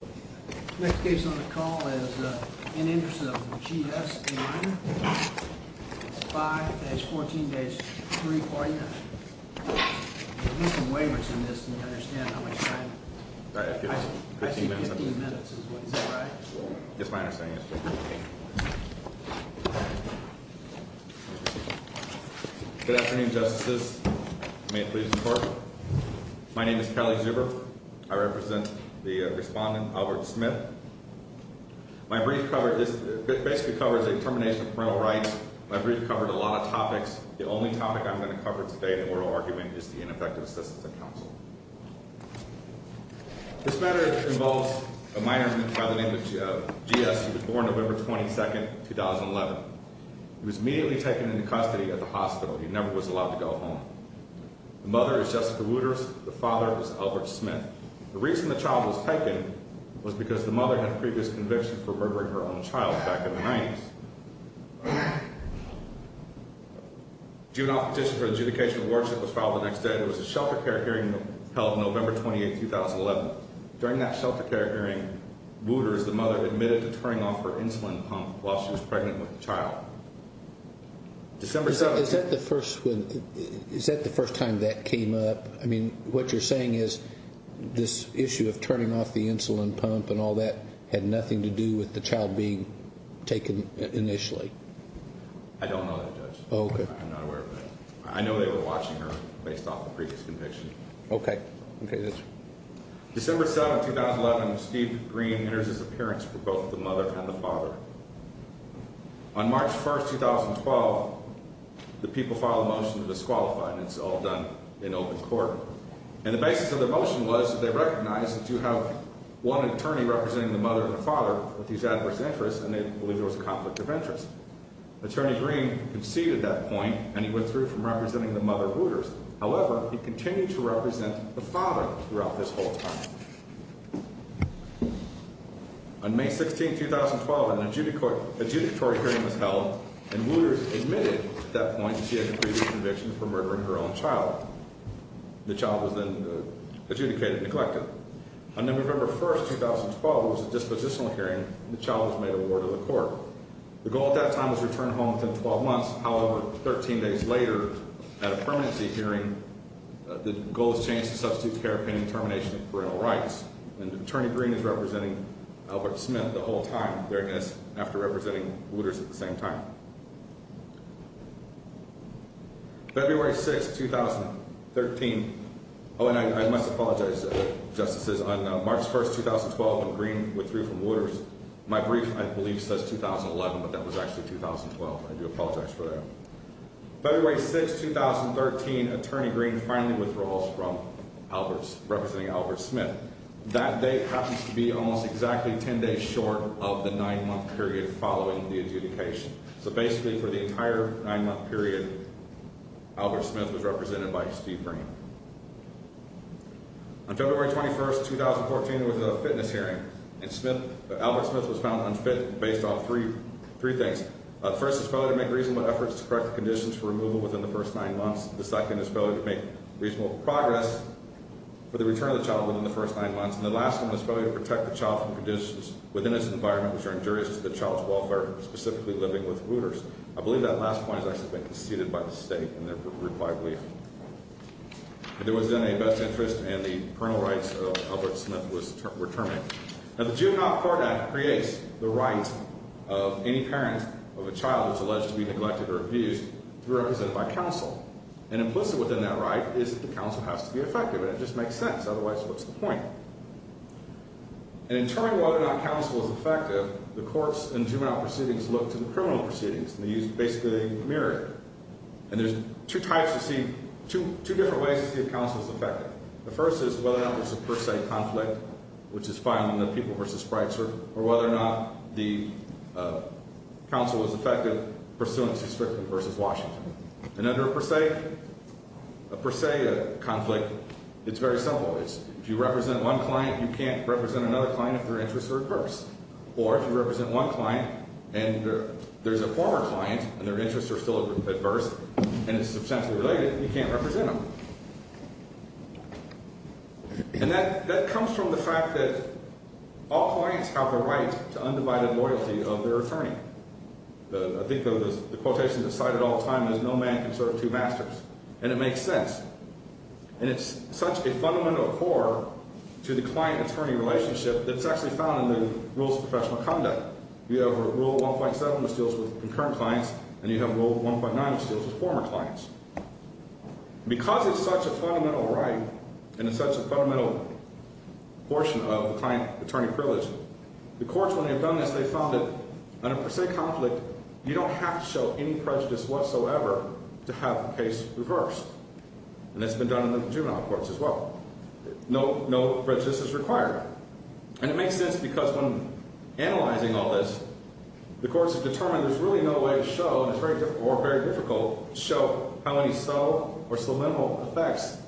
It's 5-14-349. There are some waivers in this and I don't understand how much time. I see 15 minutes is what you said, right? That's my understanding, yes. Good afternoon, Justices. May it please the Court. I represent the Respondent of the Supreme Court. I'm here to speak on the case of the minor, Albert Smith. My brief basically covers a termination of parental rights. My brief covered a lot of topics. The only topic I'm going to cover today in the oral argument is the ineffective assistance and counsel. This matter involves a minor by the name of G.S. He was born November 22, 2011. He was immediately taken into custody at the hospital. He never was allowed to go home. The mother is Jessica Wooters. He was a child of a woman. He was a child of a woman. He was a child of a woman. He was a child of a woman. In the exception of his father, which violates the Grand Clause, there are no paternal rights for the mother. The reason for the violation was because the mother had a previous conviction for murdering her own child back in the 90s. Due to an athestic adjudication of warrants, it was filed the next day. It was a shelter care hearing held November 28, 2011. During that shelter care hearing, Wooders, the mother, admitted to turning off her insulin pump while she was pregnant with the child. December 17th… Is that the first time that came up? I mean, what you're saying is this issue of turning off the insulin pump and all that had nothing to do with the child being taken initially? I don't know that, Judge. Oh, okay. I'm not aware of that. I know they were watching her based off the previous conviction. Okay. December 7th, 2011, Steve Green enters his appearance for both the mother and the father. On March 1st, 2012, the people filed a motion to disqualify, and it's all done in open court. And the basis of their motion was that they recognized that you have one attorney representing the mother and the father with these adverse interests, and they believe there was a conflict of interest. Attorney Green conceded that point, and he went through from representing the mother, Wooders. However, he continued to represent the father throughout this whole time. On May 16th, 2012, an adjudicatory hearing was held, and Wooders admitted at that point that she had a previous conviction for murdering her own child. The child was then adjudicated and neglected. On November 1st, 2012, there was a dispositional hearing, and the child was made awarded to the court. The goal at that time was to return home within 12 months. However, 13 days later, at a permanency hearing, the goal was changed to substitute care pending termination of parental rights. And Attorney Green is representing Albert Smith the whole time, after representing Wooders at the same time. February 6th, 2013. Oh, and I must apologize, Justices. On March 1st, 2012, when Green withdrew from Wooders, my brief, I believe, says 2011, but that was actually 2012. I do apologize for that. February 6th, 2013, Attorney Green finally withdraws from representing Albert Smith. That date happens to be almost exactly 10 days short of the nine-month period following the adjudication. So basically, for the entire nine-month period, Albert Smith was represented by Steve Green. On February 21st, 2014, there was a fitness hearing, and Albert Smith was found unfit based on three things. First, his failure to make reasonable efforts to correct the conditions for removal within the first nine months. The second, his failure to make reasonable progress for the return of the child within the first nine months. And the last one, his failure to protect the child from conditions within his environment which are injurious to the child's welfare, specifically living with Wooders. I believe that last point has actually been conceded by the state in their required brief. There was then a best interest, and the parental rights of Albert Smith were terminated. Now, the Juvenile Court Act creates the right of any parent of a child that's alleged to be neglected or abused to be represented by counsel. And implicit within that right is that the counsel has to be effective, and it just makes sense. Otherwise, what's the point? And in determining whether or not counsel is effective, the courts and juvenile proceedings look to the criminal proceedings, and they use basically a mirror. And there's two different ways to see if counsel is effective. The first is whether or not there's a per se conflict, which is finding the people versus sprites, or whether or not the counsel is effective, pursuant to Strickland versus Washington. And under a per se conflict, it's very simple. If you represent one client, you can't represent another client if their interests are adverse. Or if you represent one client, and there's a former client, and their interests are still adverse, you can't represent them. And that comes from the fact that all clients have the right to undivided loyalty of their attorney. I think the quotation that's cited all the time is, no man can serve two masters. And it makes sense. And it's such a fundamental core to the client-attorney relationship that's actually found in the Rules of Professional Conduct. You have Rule 1.7, which deals with concurrent clients, and you have Rule 1.9, which deals with former clients. And because it's such a fundamental right, and it's such a fundamental portion of the client-attorney privilege, the courts, when they've done this, they've found that under a per se conflict, you don't have to show any prejudice whatsoever to have the case reversed. And that's been done in the juvenile courts as well. No prejudice is required. And it makes sense, because when analyzing all this, the courts have determined there's really no way to show, or very difficult to show, how many subtle or subliminal effects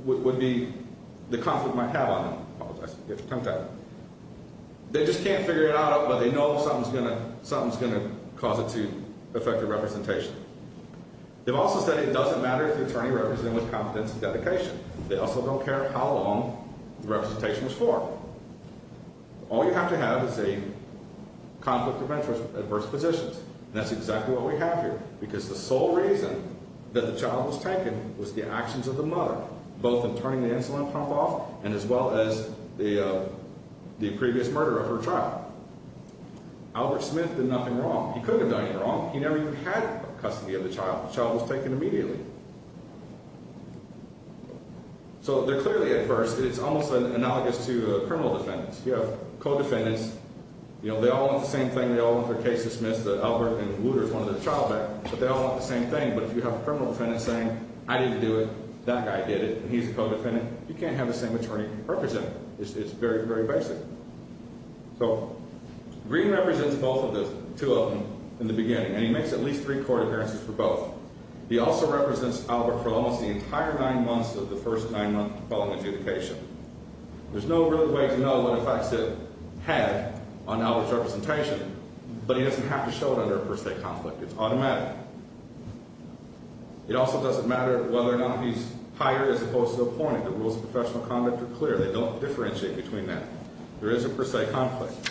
would be the conflict might have on them. They just can't figure it out, but they know something's going to cause it to affect the representation. They've also said it doesn't matter if the attorney represented with confidence and dedication. They also don't care how long the representation was for. All you have to have is a conflict prevention adverse position. And that's exactly what we have here, because the sole reason that the child was taken was the actions of the mother, both in turning the insulin pump off, and as well as the previous murder of her child. Albert Smith did nothing wrong. He couldn't have done anything wrong. He never even had custody of the child. The child was taken immediately. So they're clearly adverse. It's almost analogous to criminal defendants. You have co-defendants. They all want the same thing. They all want their case dismissed. Albert and Wooter is one of the child bank. But they all want the same thing. But if you have a criminal defendant saying, I didn't do it. That guy did it. And he's a co-defendant. You can't have the same attorney represent. It's very, very basic. So Green represents both of those, two of them, in the beginning. And he makes at least three court appearances for both. He also represents Albert for almost the entire nine months of the first nine months following adjudication. There's no real way to know what effects it had on Albert's representation. But he doesn't have to show it under a per se conflict. It's automatic. It also doesn't matter whether or not he's hired as opposed to appointed. The rules of professional conduct are clear. They don't differentiate between them. There is a per se conflict.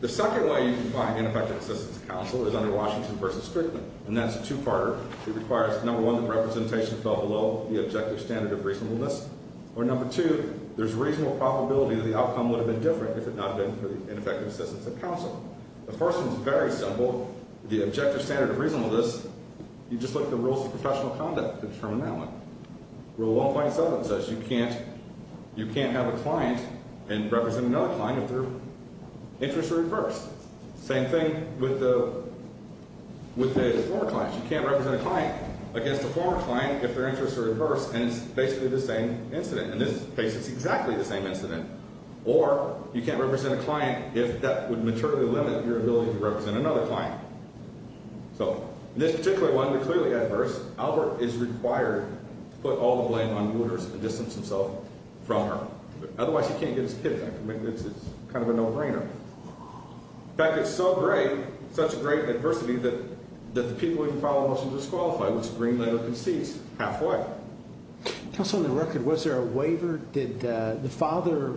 The second way you can find ineffective assistance counsel is under Washington v. Strickland. And that's a two-parter. It requires, number one, that representation fell below the objective standard of reasonableness. Or number two, there's a reasonable probability the outcome would have been different if it had not been for the ineffective assistance of counsel. The first one is very simple. The objective standard of reasonableness, you just look at the rules of professional conduct to determine that one. Rule 1.7 says you can't have a client represent another client if their interests are reversed. Same thing with the former clients. You can't represent a client against a former client if their interests are reversed. And it's basically the same incident. In this case, it's exactly the same incident. Or you can't represent a client if that would materially limit your ability to represent another client. So in this particular one, it's clearly adverse. Albert is required to put all the blame on Wooders and distance himself from her. Otherwise, he can't get his kid back. It's kind of a no-brainer. In fact, it's so great, such great adversity, that the people who file a motion disqualify, which Greenlander concedes halfway. Counsel, on the record, was there a waiver? Did the father,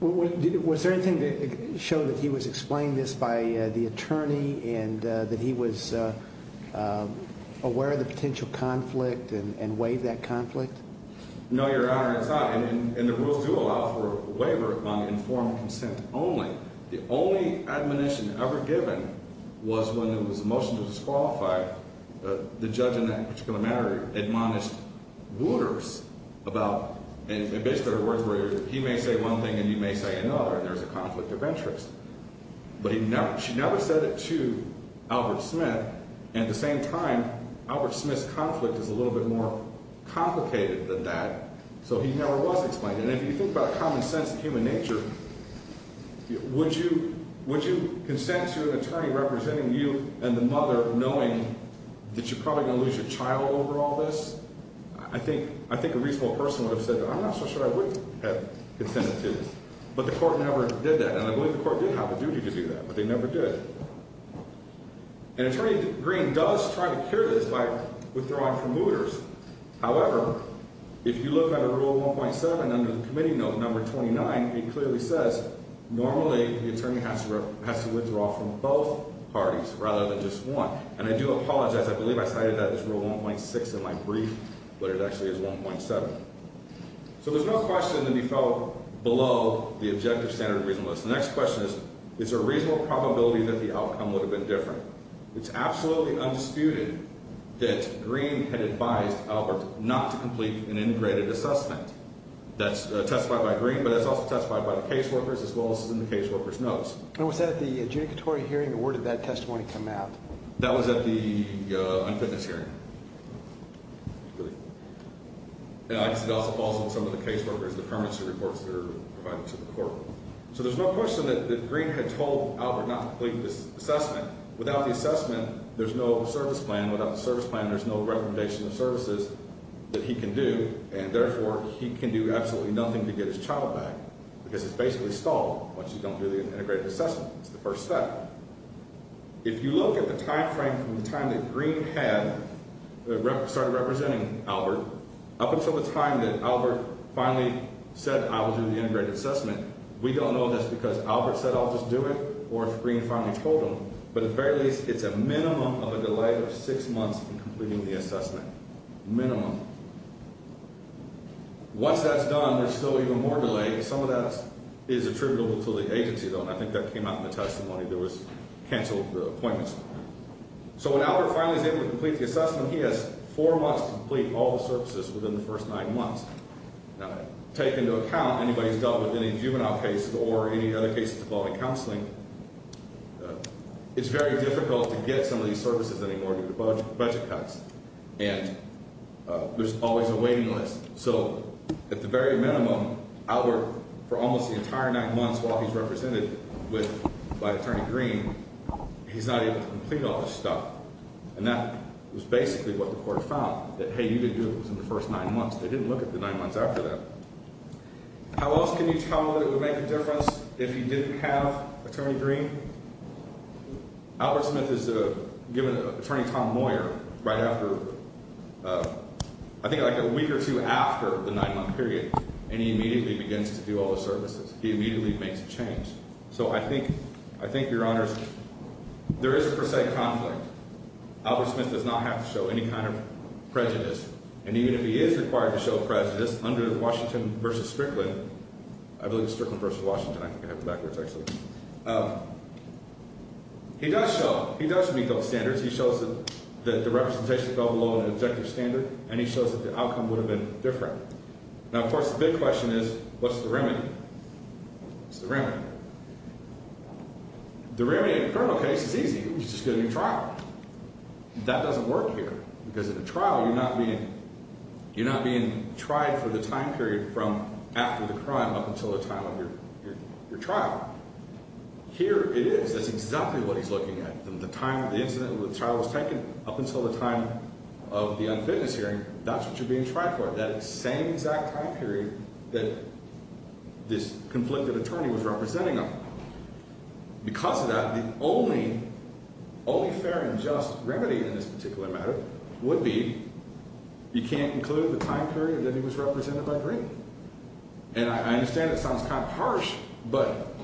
was there anything that showed that he was explaining this by the attorney and that he was aware of the potential conflict and waived that conflict? No, Your Honor, it's not. And the rules do allow for a waiver on informed consent only. The only admonition ever given was when there was a motion to disqualify. The judge in that particular matter admonished Wooders about, and basically there were words where he may say one thing and you may say another, and there's a conflict of interest. But he never, she never said it to Albert Smith. And at the same time, Albert Smith's conflict is a little bit more complicated than that. So he never was explaining it. And if you think about common sense and human nature, would you consent to an attorney representing you and the mother knowing that you're probably going to lose your child over all this? I think a reasonable person would have said, I'm not so sure I would have consented to this. But the court never did that, and I believe the court did have a duty to do that, but they never did. And Attorney Green does try to cure this by withdrawing from Wooders. However, if you look at Rule 1.7 under the Committee Note No. 29, it clearly says normally the attorney has to withdraw from both parties rather than just one. And I do apologize. I believe I cited that as Rule 1.6 in my brief, but it actually is 1.7. So there's no question that he fell below the objective standard of reasonableness. The next question is, is there a reasonable probability that the outcome would have been different? It's absolutely undisputed that Green had advised Albert not to complete an integrated assessment. That's testified by Green, but that's also testified by the caseworkers, as well as in the caseworker's notes. And was that at the adjudicatory hearing, or where did that testimony come out? That was at the unfitness hearing. It also falls on some of the caseworkers, the permanency reports that are provided to the court. So there's no question that Green had told Albert not to complete this assessment without the assessment, there's no service plan. Without the service plan, there's no recommendation of services that he can do, and therefore, he can do absolutely nothing to get his child back because it's basically stalled once you've gone through the integrated assessment. It's the first step. If you look at the timeframe from the time that Green had started representing Albert up until the time that Albert finally said, I will do the integrated assessment, we don't know if that's because Albert said, I'll just do it, or if Green finally told him. But at the very least, it's a minimum of a delay of six months in completing the assessment. Minimum. Once that's done, there's still even more delay. Some of that is attributable to the agency, though, and I think that came out in the testimony there was canceled appointments. So when Albert finally is able to complete the assessment, he has four months to complete all the services within the first nine months. Now, take into account anybody who's dealt with any juvenile cases or any other cases involving counseling, it's very difficult to get some of these services anymore due to budget cuts, and there's always a waiting list. So at the very minimum, Albert, for almost the entire nine months while he's represented by Attorney Green, he's not able to complete all this stuff, and that was basically what the court found, that, hey, you didn't do it within the first nine months. They didn't look at the nine months after that. How else can you tell that it would make a difference if he didn't have Attorney Green? Albert Smith is given Attorney Tom Moyer right after, I think like a week or two after the nine-month period, and he immediately begins to do all the services. He immediately makes a change. So I think, Your Honors, there is a per se conflict. Albert Smith does not have to show any kind of prejudice, and even if he is required to show prejudice under Washington v. Strickland, I believe it's Strickland v. Washington. I think I have it backwards, actually. He does show. He does meet those standards. He shows that the representation fell below an objective standard, and he shows that the outcome would have been different. Now, of course, the big question is what's the remedy? What's the remedy? The remedy in a criminal case is easy. You just get a new trial. That doesn't work here because in a trial you're not being tried for the time period from after the crime up until the time of your trial. Here it is. That's exactly what he's looking at. From the time the incident of the trial was taken up until the time of the unfitness hearing, that's what you're being tried for, that same exact time period that this conflicted attorney was representing him. Because of that, the only fair and just remedy in this particular matter would be you can't include the time period that he was represented by Green. And I understand that sounds kind of harsh, but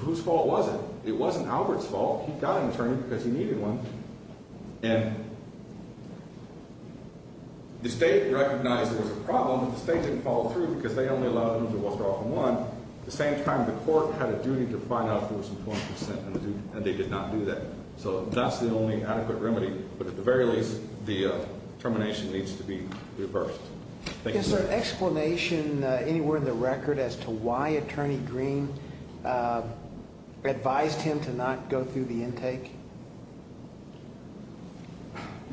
whose fault was it? It wasn't Albert's fault. He got an attorney because he needed one. And the state recognized there was a problem, but the state didn't follow through because they only allowed him to withdraw from one. At the same time, the court had a duty to find out if there was employment consent, and they did not do that. So that's the only adequate remedy. But at the very least, the termination needs to be reversed. Thank you. Is there an explanation anywhere in the record as to why Attorney Green advised him to not go through the intake?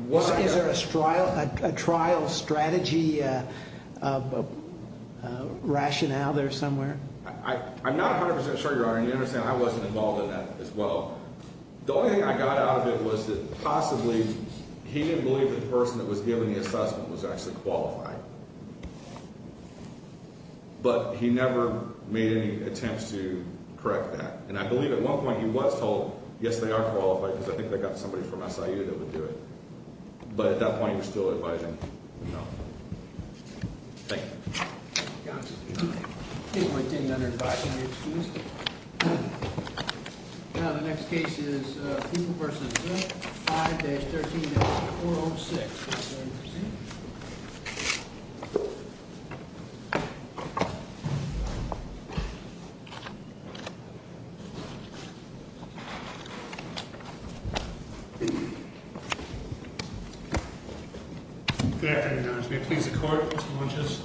Is there a trial strategy rationale there somewhere? I'm not 100% sure, Your Honor, and you understand I wasn't involved in that as well. The only thing I got out of it was that possibly he didn't believe the person that was giving the assessment was actually qualified. But he never made any attempts to correct that. And I believe at one point he was told, yes, they are qualified because I think they've got somebody from SIU that would do it. But at that point, he was still advising. Thank you. Thank you, Your Honor. I don't think there's any other advice I need to use. The next case is Poole v. Zip, 5-13-406. Good afternoon, Your Honor. May it please the Court, Mr. Montes.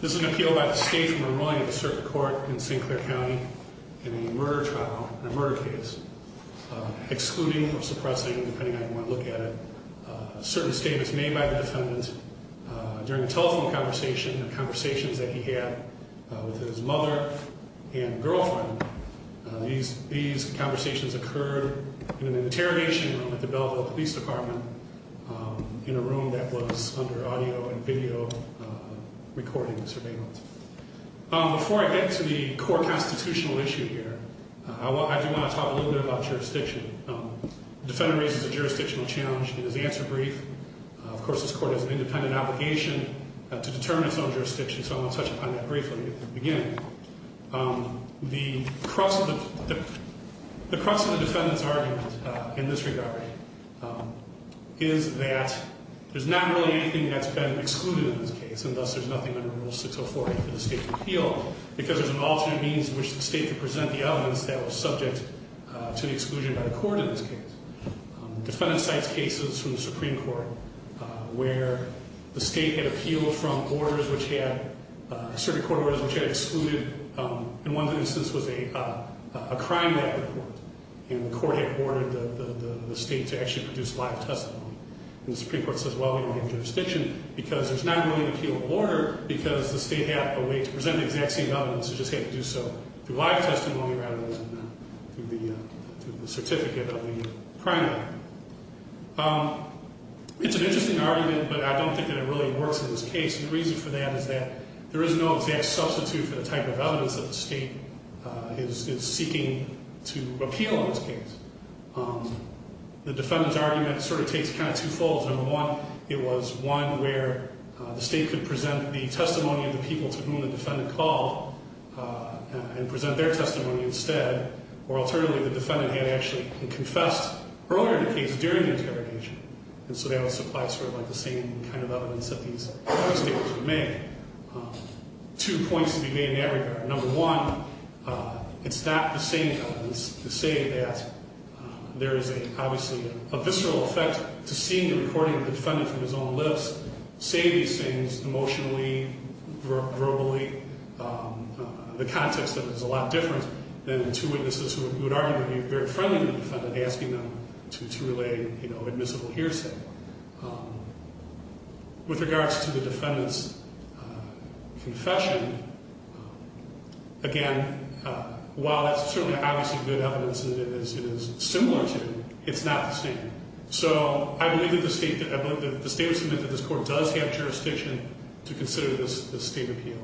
This is an appeal by the state from a ruling of a certain court in St. Clair County in a murder trial, a murder case. Excluding or suppressing, depending on how you want to look at it. A certain statement was made by the defendant during a telephone conversation, the conversations that he had with his mother and girlfriend. These conversations occurred in an interrogation room at the Belleville Police Department in a room that was under audio and video recording surveillance. Before I get to the core constitutional issue here, I do want to talk a little bit about jurisdiction. The defendant raises a jurisdictional challenge and his answer brief. Of course, this court has an independent obligation to determine its own jurisdiction, so I want to touch upon that briefly at the beginning. The crux of the defendant's argument in this regard, is that there's not really anything that's been excluded in this case, and thus there's nothing under Rule 604A for the state to appeal, because there's an alternate means in which the state could present the evidence that was subject to the exclusion by the court in this case. The defendant cites cases from the Supreme Court, where the state had appealed from orders which had, certain court orders which had excluded, in one instance was a crime record, and the court had ordered the state to actually produce live testimony. And the Supreme Court says, well, we don't have jurisdiction, because there's not really an appealable order, because the state had a way to present the exact same evidence, it just had to do so through live testimony rather than through the certificate of the crime record. It's an interesting argument, but I don't think that it really works in this case. The reason for that is that there is no exact substitute for the type of evidence that the state is seeking to appeal in this case. The defendant's argument sort of takes kind of two folds. Number one, it was one where the state could present the testimony of the people to whom the defendant called, and present their testimony instead. Or alternatively, the defendant had actually confessed earlier in the case during the interrogation. And so that would supply sort of like the same kind of evidence that these other states would make. Two points to be made in that regard. Number one, it's not the same evidence to say that there is obviously a visceral effect to seeing the recording of the defendant from his own lips, say these things emotionally, verbally, the context of it is a lot different than two witnesses who would arguably be very friendly to the defendant asking them to relay admissible hearsay. With regards to the defendant's confession, again, while it's certainly obviously good evidence, it is similar to, it's not the same. So I believe that the state would submit that this court does have jurisdiction to consider this state appeal.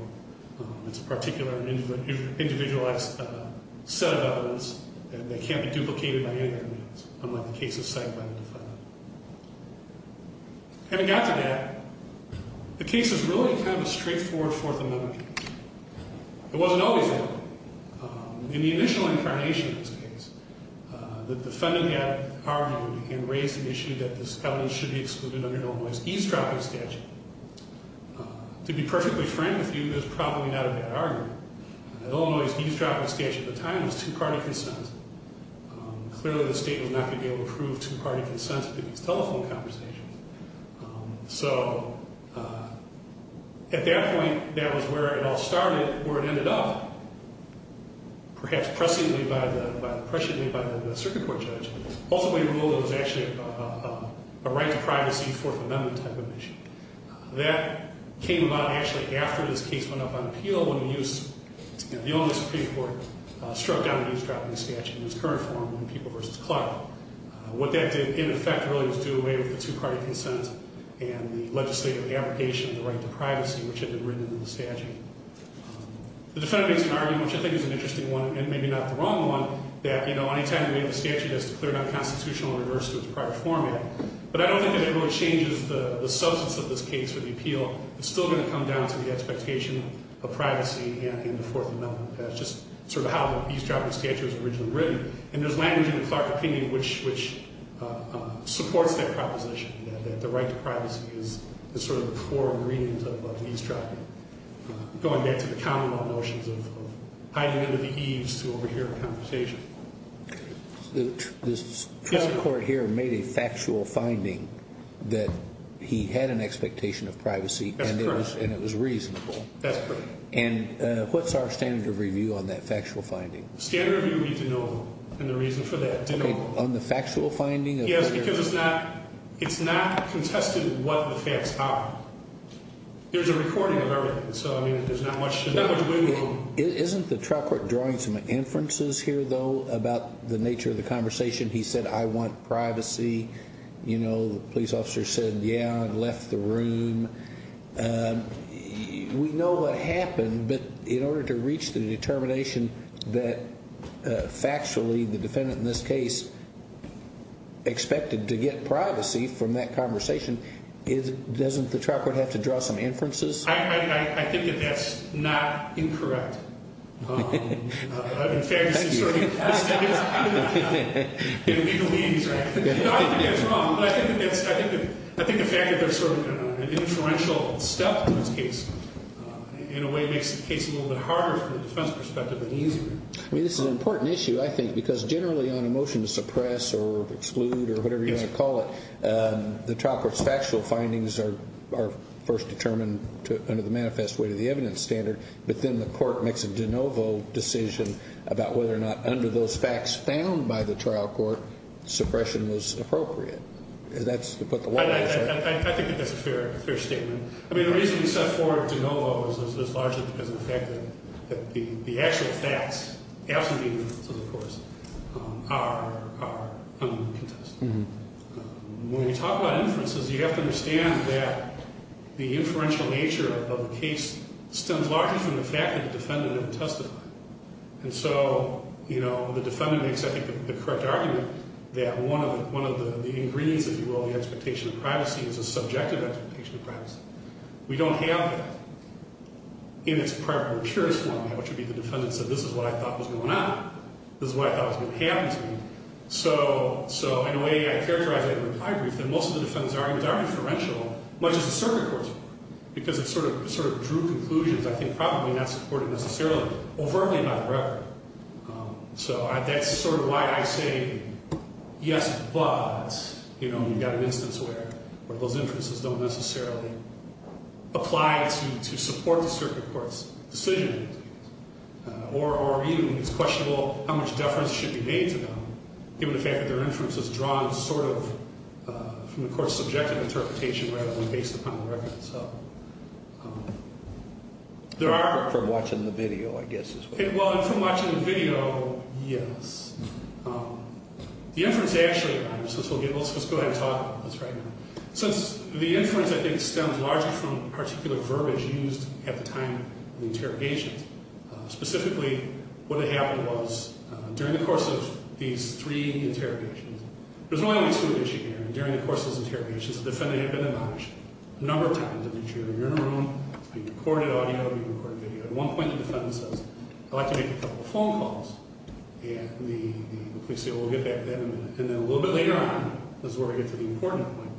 It's a particular individualized set of evidence that can't be duplicated by any other means, unlike the cases cited by the defendant. Having got to that, the case is really kind of a straightforward Fourth Amendment case. It wasn't always that way. In the initial incarnation of this case, the defendant had argued and raised the issue that this felony should be excluded under a normalized eavesdropping statute. To be perfectly frank with you, that's probably not a bad argument. A normalized eavesdropping statute at the time was two-party consent. Clearly, the state was not going to be able to approve two-party consent for these telephone conversations. So at that point, that was where it all started, where it ended up, perhaps pressingly by the circuit court judge. Ultimately, it was actually a right to privacy Fourth Amendment type of issue. That came about actually after this case went up on appeal, when the only Supreme Court struck down the eavesdropping statute in its current form, when people v. Clark. What that did, in effect, really was do away with the two-party consent and the legislative abrogation of the right to privacy, which had been written into the statute. The defendant makes an argument, which I think is an interesting one, and maybe not the wrong one, that any time you have a statute that's declared unconstitutional, it reverts to its prior format. But I don't think that it really changes the substance of this case for the appeal. It's still going to come down to the expectation of privacy and the Fourth Amendment. That's just sort of how the eavesdropping statute was originally written. And there's language in the Clark opinion which supports that proposition, that the right to privacy is sort of the core ingredients of eavesdropping, going back to the Commonwealth notions of hiding under the eaves to overhear a conversation. This trial court here made a factual finding that he had an expectation of privacy. That's correct. And it was reasonable. That's correct. And what's our standard of review on that factual finding? Standard of review would be de novo, and the reason for that, de novo. On the factual finding? Yes, because it's not contested what the facts are. There's a recording of everything, so, I mean, there's not much to do. Isn't the trial court drawing some inferences here, though, about the nature of the conversation? He said, I want privacy. You know, the police officer said, yeah, and left the room. We know what happened, but in order to reach the determination that, factually, the defendant in this case expected to get privacy from that conversation, doesn't the trial court have to draw some inferences? I think that that's not incorrect. In fact, it's sort of an inferential step in this case. In a way, it makes the case a little bit harder from a defense perspective and easier. I mean, this is an important issue, I think, because generally on a motion to suppress or exclude or whatever you want to call it, the trial court's factual findings are first determined under the manifest way to the evidence standard, but then the court makes a de novo decision about whether or not under those facts found by the trial court, suppression was appropriate. I think that that's a fair statement. I mean, the reason we set forward de novo is largely because of the fact that the actual facts, absentee inferences, of course, are under the contest. When we talk about inferences, you have to understand that the inferential nature of the case stems largely from the fact that the defendant didn't testify. And so, you know, the defendant makes, I think, the correct argument that one of the ingredients, if you will, of the expectation of privacy is a subjective expectation of privacy. We don't have that in its prior procurious form, which would be the defendant said, this is what I thought was going on. This is what I thought was going to happen to me. So in a way, I characterize it in a reply brief that most of the defendant's arguments are inferential, much as the circuit court's, because it sort of drew conclusions, I think, probably not supported necessarily overtly by the record. So that's sort of why I say, yes, but, you know, you've got an instance where those inferences don't necessarily apply to support the circuit court's decision. Or, you know, it's questionable how much deference should be paid to them, given the fact that their inference is drawn sort of from the court's subjective interpretation rather than based upon the record. So there are... From watching the video, I guess, as well. Well, from watching the video, yes. The inference actually, let's just go ahead and talk about this right now. Since the inference, I think, stems largely from particular verbiage used at the time of the interrogation. Specifically, what had happened was, during the course of these three interrogations, there was only one issue here. During the course of those interrogations, the defendant had been admonished a number of times. If you're in a room, you've recorded audio, you've recorded video. At one point, the defendant says, I'd like to make a couple of phone calls. And the police say, well, we'll get back to that in a minute. And then a little bit later on is where we get to the important point.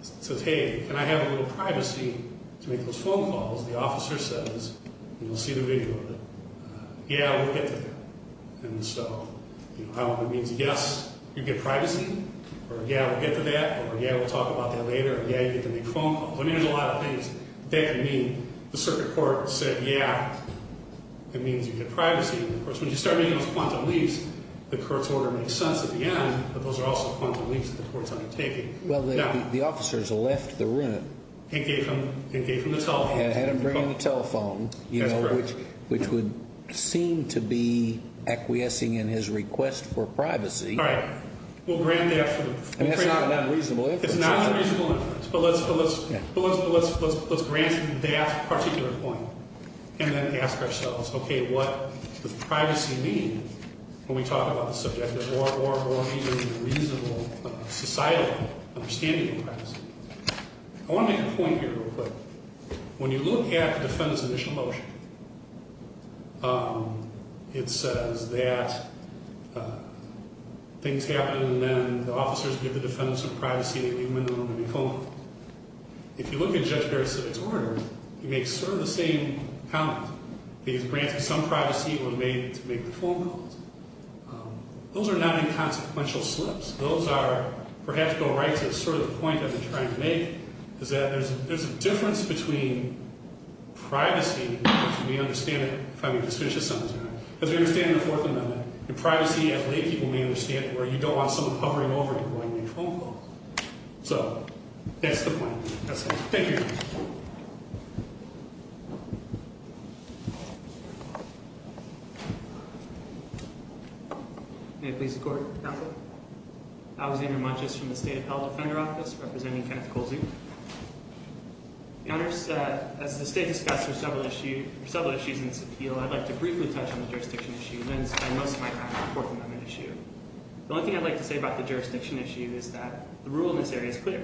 He says, hey, can I have a little privacy to make those phone calls? The officer says, and you'll see the video of it, yeah, we'll get to that. And so, you know, how long it means yes, you get privacy, or yeah, we'll get to that, or yeah, we'll talk about that later, or yeah, you get to make phone calls. I mean, there's a lot of things that could mean. The circuit court said, yeah, it means you get privacy. Of course, when you start making those quantum leaps, the court's order makes sense at the end, but those are also quantum leaps that the court's undertaking. Well, the officers left the room. And gave him the telephone. And had him bring the telephone, you know, which would seem to be acquiescing in his request for privacy. All right. We'll grant that. I mean, that's not an unreasonable inference. It's not an unreasonable inference, but let's grant that particular point. And then ask ourselves, okay, what does privacy mean when we talk about the subject of more and more and more reasonable societal understanding of privacy? I want to make a point here real quick. When you look at the defendant's initial motion, it says that things happen, and then the officers give the defendant some privacy, and they leave him in the room and leave him home. If you look at Judge Barrett-Civic's order, he makes sort of the same comment. He has granted some privacy when made to make the phone calls. Those are not inconsequential slips. Those are, perhaps go right to sort of the point I've been trying to make, is that there's a difference between privacy, which we understand, if I may just finish this sentence, because we understand in the Fourth Amendment, that privacy, as laypeople may understand, where you don't want someone hovering over you while you make phone calls. So that's the point. That's it. Thank you. May it please the Court. Counsel. Alexander Munches from the State Appellate Defender Office, representing Kenneth Colsey. Your Honors, as the State discussed for several issues in this appeal, I'd like to briefly touch on the jurisdiction issue, and spend most of my time on the Fourth Amendment issue. The only thing I'd like to say about the jurisdiction issue is that the rule in this area is clear.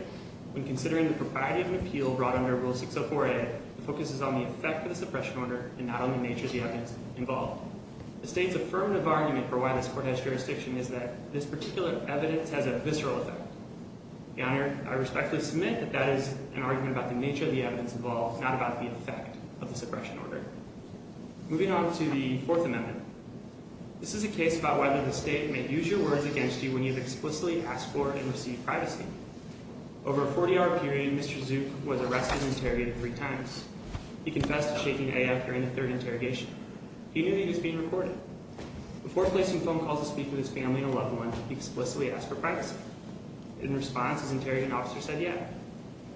When considering the propriety of an appeal brought under Rule 604A, it focuses on the effect of the suppression order and not on the nature of the evidence involved. The State's affirmative argument for why this Court has jurisdiction is that this particular evidence has a visceral effect. Your Honor, I respectfully submit that that is an argument about the nature of the evidence involved, not about the effect of the suppression order. Moving on to the Fourth Amendment. This is a case about whether the State may use your words against you when you've explicitly asked for and received privacy. Over a 40-hour period, Mr. Zook was arrested and interrogated three times. He confessed to shaking A.F. during the third interrogation. He knew that he was being recorded. Before placing phone calls to speak with his family and a loved one, he explicitly asked for privacy. In response, his interrogating officer said, yeah.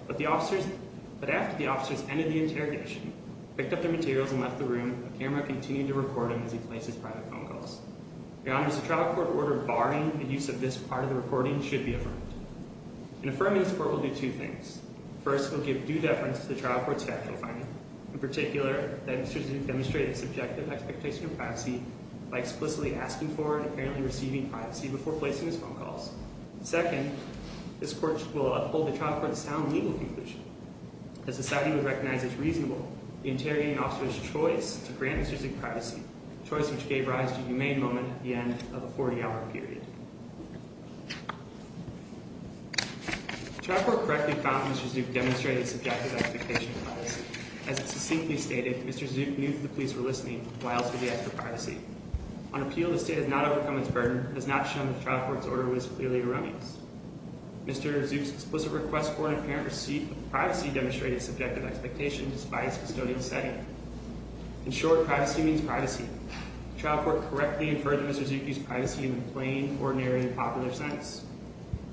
But after the officers ended the interrogation, picked up their materials, and left the room, the camera continued to record him as he placed his private phone calls. Your Honor, does the trial court order barring the use of this part of the recording should be affirmed? In affirming this Court, we'll do two things. First, we'll give due deference to the trial court's capital finding. In particular, that Mr. Zook demonstrated subjective expectation of privacy by explicitly asking for and apparently receiving privacy before placing his phone calls. Second, this Court will uphold the trial court's sound legal conclusion. The society would recognize as reasonable the interrogating officer's choice to grant Mr. Zook privacy, a choice which gave rise to a humane moment at the end of a 40-hour period. The trial court correctly found that Mr. Zook demonstrated subjective expectation of privacy. As it succinctly stated, Mr. Zook knew that the police were listening while he was asked for privacy. On appeal, the State has not overcome its burden and has not shown that the trial court's order was clearly erroneous. Mr. Zook's explicit request for and apparent receipt of privacy demonstrated subjective expectation despite his custodial setting. In short, privacy means privacy. The trial court correctly inferred that Mr. Zook used privacy in the plain, ordinary, and popular sense.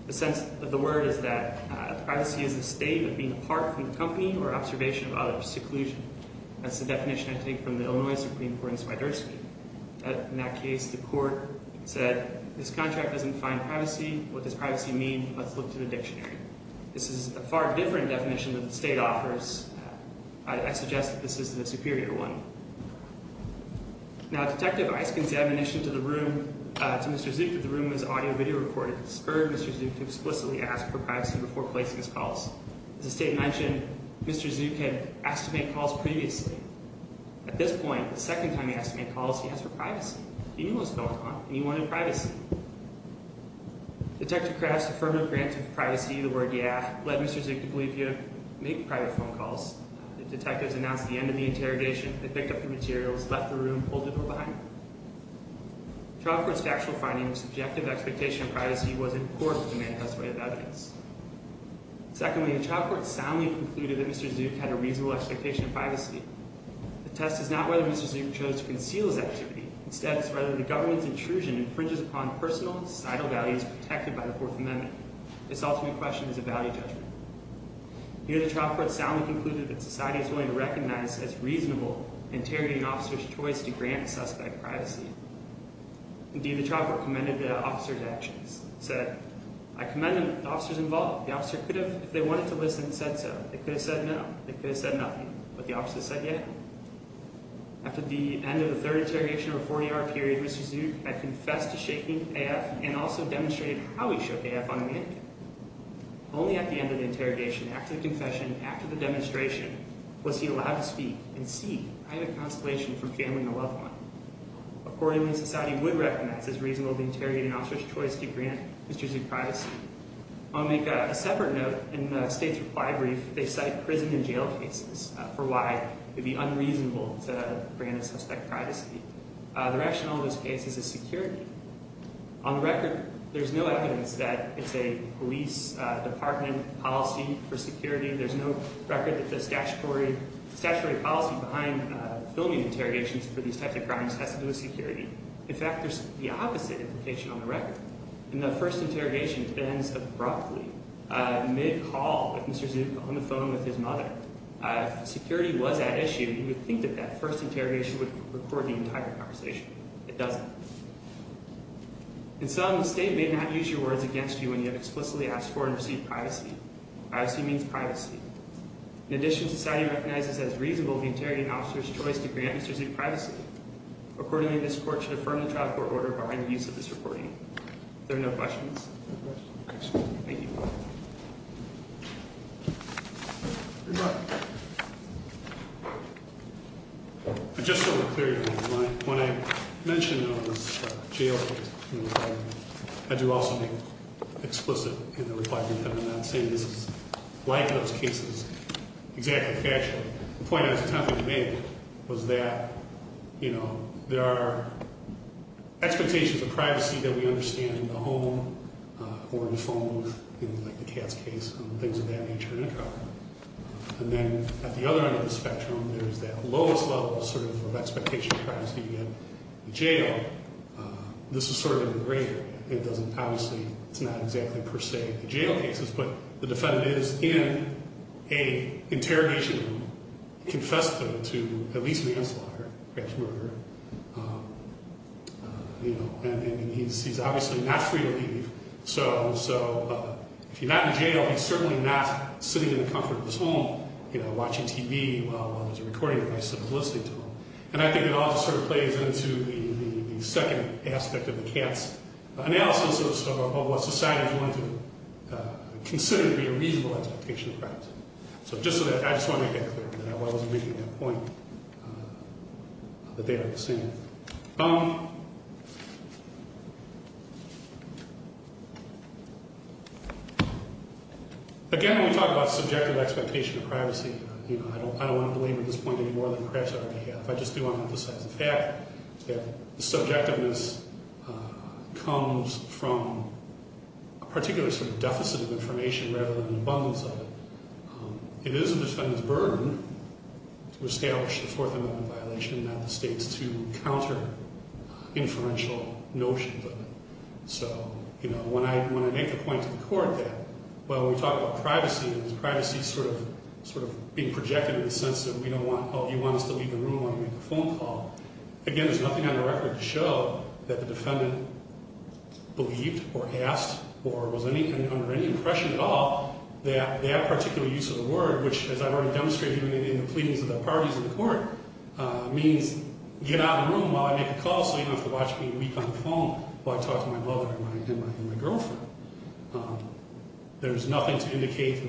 The sense of the word is that privacy is a statement being apart from the company or observation of other seclusion. That's the definition I take from the Illinois Supreme Court in Swiderski. In that case, the court said, this contract doesn't define privacy. What does privacy mean? Let's look to the dictionary. This is a far different definition than the State offers. I suggest that this is the superior one. Now, Detective Isken's admonition to Mr. Zook that the room was audio-video recorded spurred Mr. Zook to explicitly ask for privacy before placing his calls. As the State mentioned, Mr. Zook had asked to make calls previously. At this point, the second time he asked to make calls, he asked for privacy. He knew what was going on, and he wanted privacy. Detective Krause's affirmative grant of privacy, the word yeah, led Mr. Zook to believe he had made private phone calls. The detectives announced the end of the interrogation. They picked up the materials, left the room, and pulled the door behind them. The trial court's factual finding of subjective expectation of privacy was in accord with the manifest way of evidence. Secondly, the trial court soundly concluded that Mr. Zook had a reasonable expectation of privacy. The test is not whether Mr. Zook chose to conceal his activity. Instead, it's whether the government's intrusion infringes upon personal and societal values protected by the Fourth Amendment. This ultimate question is a value judgment. Here, the trial court soundly concluded that society is willing to recognize as reasonable interrogating officers' choice to grant a suspect privacy. Indeed, the trial court commended the officer's actions. It said, I commend the officers involved. The officer could have, if they wanted to listen, said so. They could have said no. They could have said nothing. But the officer said yes. After the end of the third interrogation of a 40-hour period, Mr. Zook had confessed to shaking AF and also demonstrated how he shook AF on a mannequin. Only at the end of the interrogation, after the confession, after the demonstration, was he allowed to speak and seek private consolation from family and a loved one. Accordingly, society would recognize as reasonable the interrogating officer's choice to grant Mr. Zook privacy. I want to make a separate note. In the state's reply brief, they cite prison and jail cases for why it would be unreasonable to grant a suspect privacy. The rationale of those cases is security. On the record, there's no evidence that it's a police department policy for security. There's no record that the statutory policy behind filming interrogations for these types of crimes has to do with security. In fact, there's the opposite implication on the record. In the first interrogation, it ends abruptly, mid-call with Mr. Zook on the phone with his mother. If security was at issue, you would think that that first interrogation would record the entire conversation. It doesn't. In sum, the state may not use your words against you when you have explicitly asked for and received privacy. Privacy means privacy. In addition, society recognizes as reasonable the interrogating officer's choice to grant Mr. Zook privacy. Accordingly, this court should affirm the trial court order barring the use of this recording. There are no questions? No questions. Thank you. Just so we're clear here, when I mentioned this jail case, I do also make it explicit in the requirement that we're not saying this is like those cases, exactly factual. The point I was attempting to make was that there are expectations of privacy that we understand in the home or in the phone booth, like the Katz case, things of that nature in a trial. And then at the other end of the spectrum, there's that lowest level of expectation of privacy in the jail. This is sort of in the radar. It doesn't, obviously, it's not exactly per se the jail cases, but the defendant is in an interrogation room, confessed to at least manslaughter, perhaps murder. And he's obviously not free to leave, so if he's not in jail, he's certainly not sitting in the comfort of his home watching TV while there's a recording of my son listening to him. And I think it all sort of plays into the second aspect of the Katz analysis of what society is willing to consider So just so that, I just want to make that clear that I wasn't making that point, that they are the same. Again, when we talk about subjective expectation of privacy, you know, I don't want to belabor this point anymore than perhaps I already have. I just do want to emphasize the fact that the subjectiveness comes from a particular sort of deficit of information rather than an abundance of it. It is the defendant's burden to establish the Fourth Amendment violation, not the state's, to counter inferential notions of it. So, you know, when I make the point to the court that, well, we talk about privacy, and there's privacy sort of being projected in the sense that we don't want, oh, you want us to leave the room, you want to make a phone call. Again, there's nothing on the record to show that the defendant believed or asked or was under any impression at all that that particular use of the word, which, as I've already demonstrated in the pleadings of the parties in the court, means get out of the room while I make a call so you don't have to watch me weep on the phone while I talk to my mother and my girlfriend. There's nothing to indicate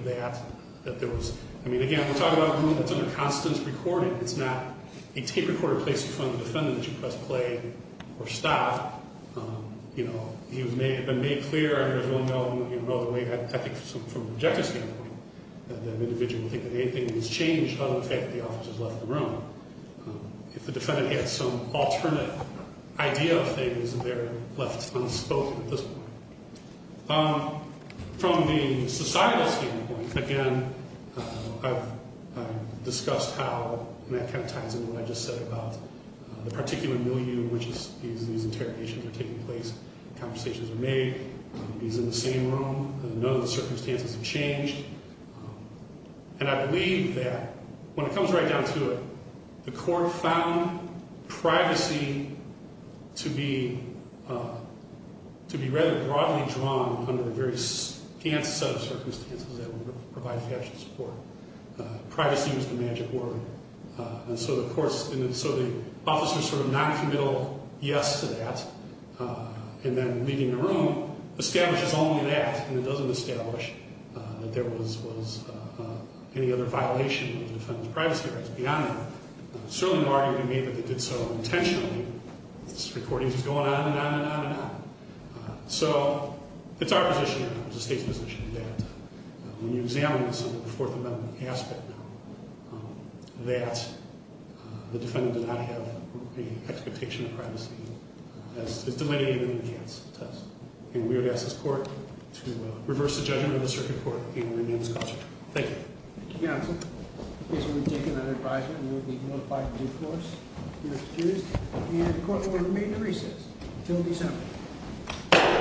that there was, I mean, again, we're talking about a room that's under constant recording. It's not a tape recorder placed in front of the defendant that you press play or stop. You know, it may have been made clear, I don't really know the way, I think from the objective standpoint, that the individual will think that anything has changed other than the fact that the officer has left the room. If the defendant had some alternate idea of things, they're left unspoken at this point. From the societal standpoint, again, I've discussed how that kind of ties into what I just said about the particular milieu in which these interrogations are taking place. Conversations are made. He's in the same room. None of the circumstances have changed. And I believe that when it comes right down to it, the court found privacy to be rather broadly drawn under the various sub-circumstances that would provide factual support. Privacy was the magic word. And so the court's, and so the officer's sort of noncommittal yes to that, and then leaving the room, establishes only that. And it doesn't establish that there was any other violation of the defendant's privacy rights beyond that. It's certainly no argument to me that they did so intentionally. This recording is going on and on and on and on. So, it's our position now, the state's position, that when you examine this under the Fourth Amendment aspect now, that the defendant did not have any expectation of privacy as delineated in the enhanced test. And we would ask this court to reverse the judgment of the circuit court and remain in its concept. Thank you. Thank you, counsel. In case you want to take another advisement, we will be notified of due course next Tuesday. And the court will remain in recess until December.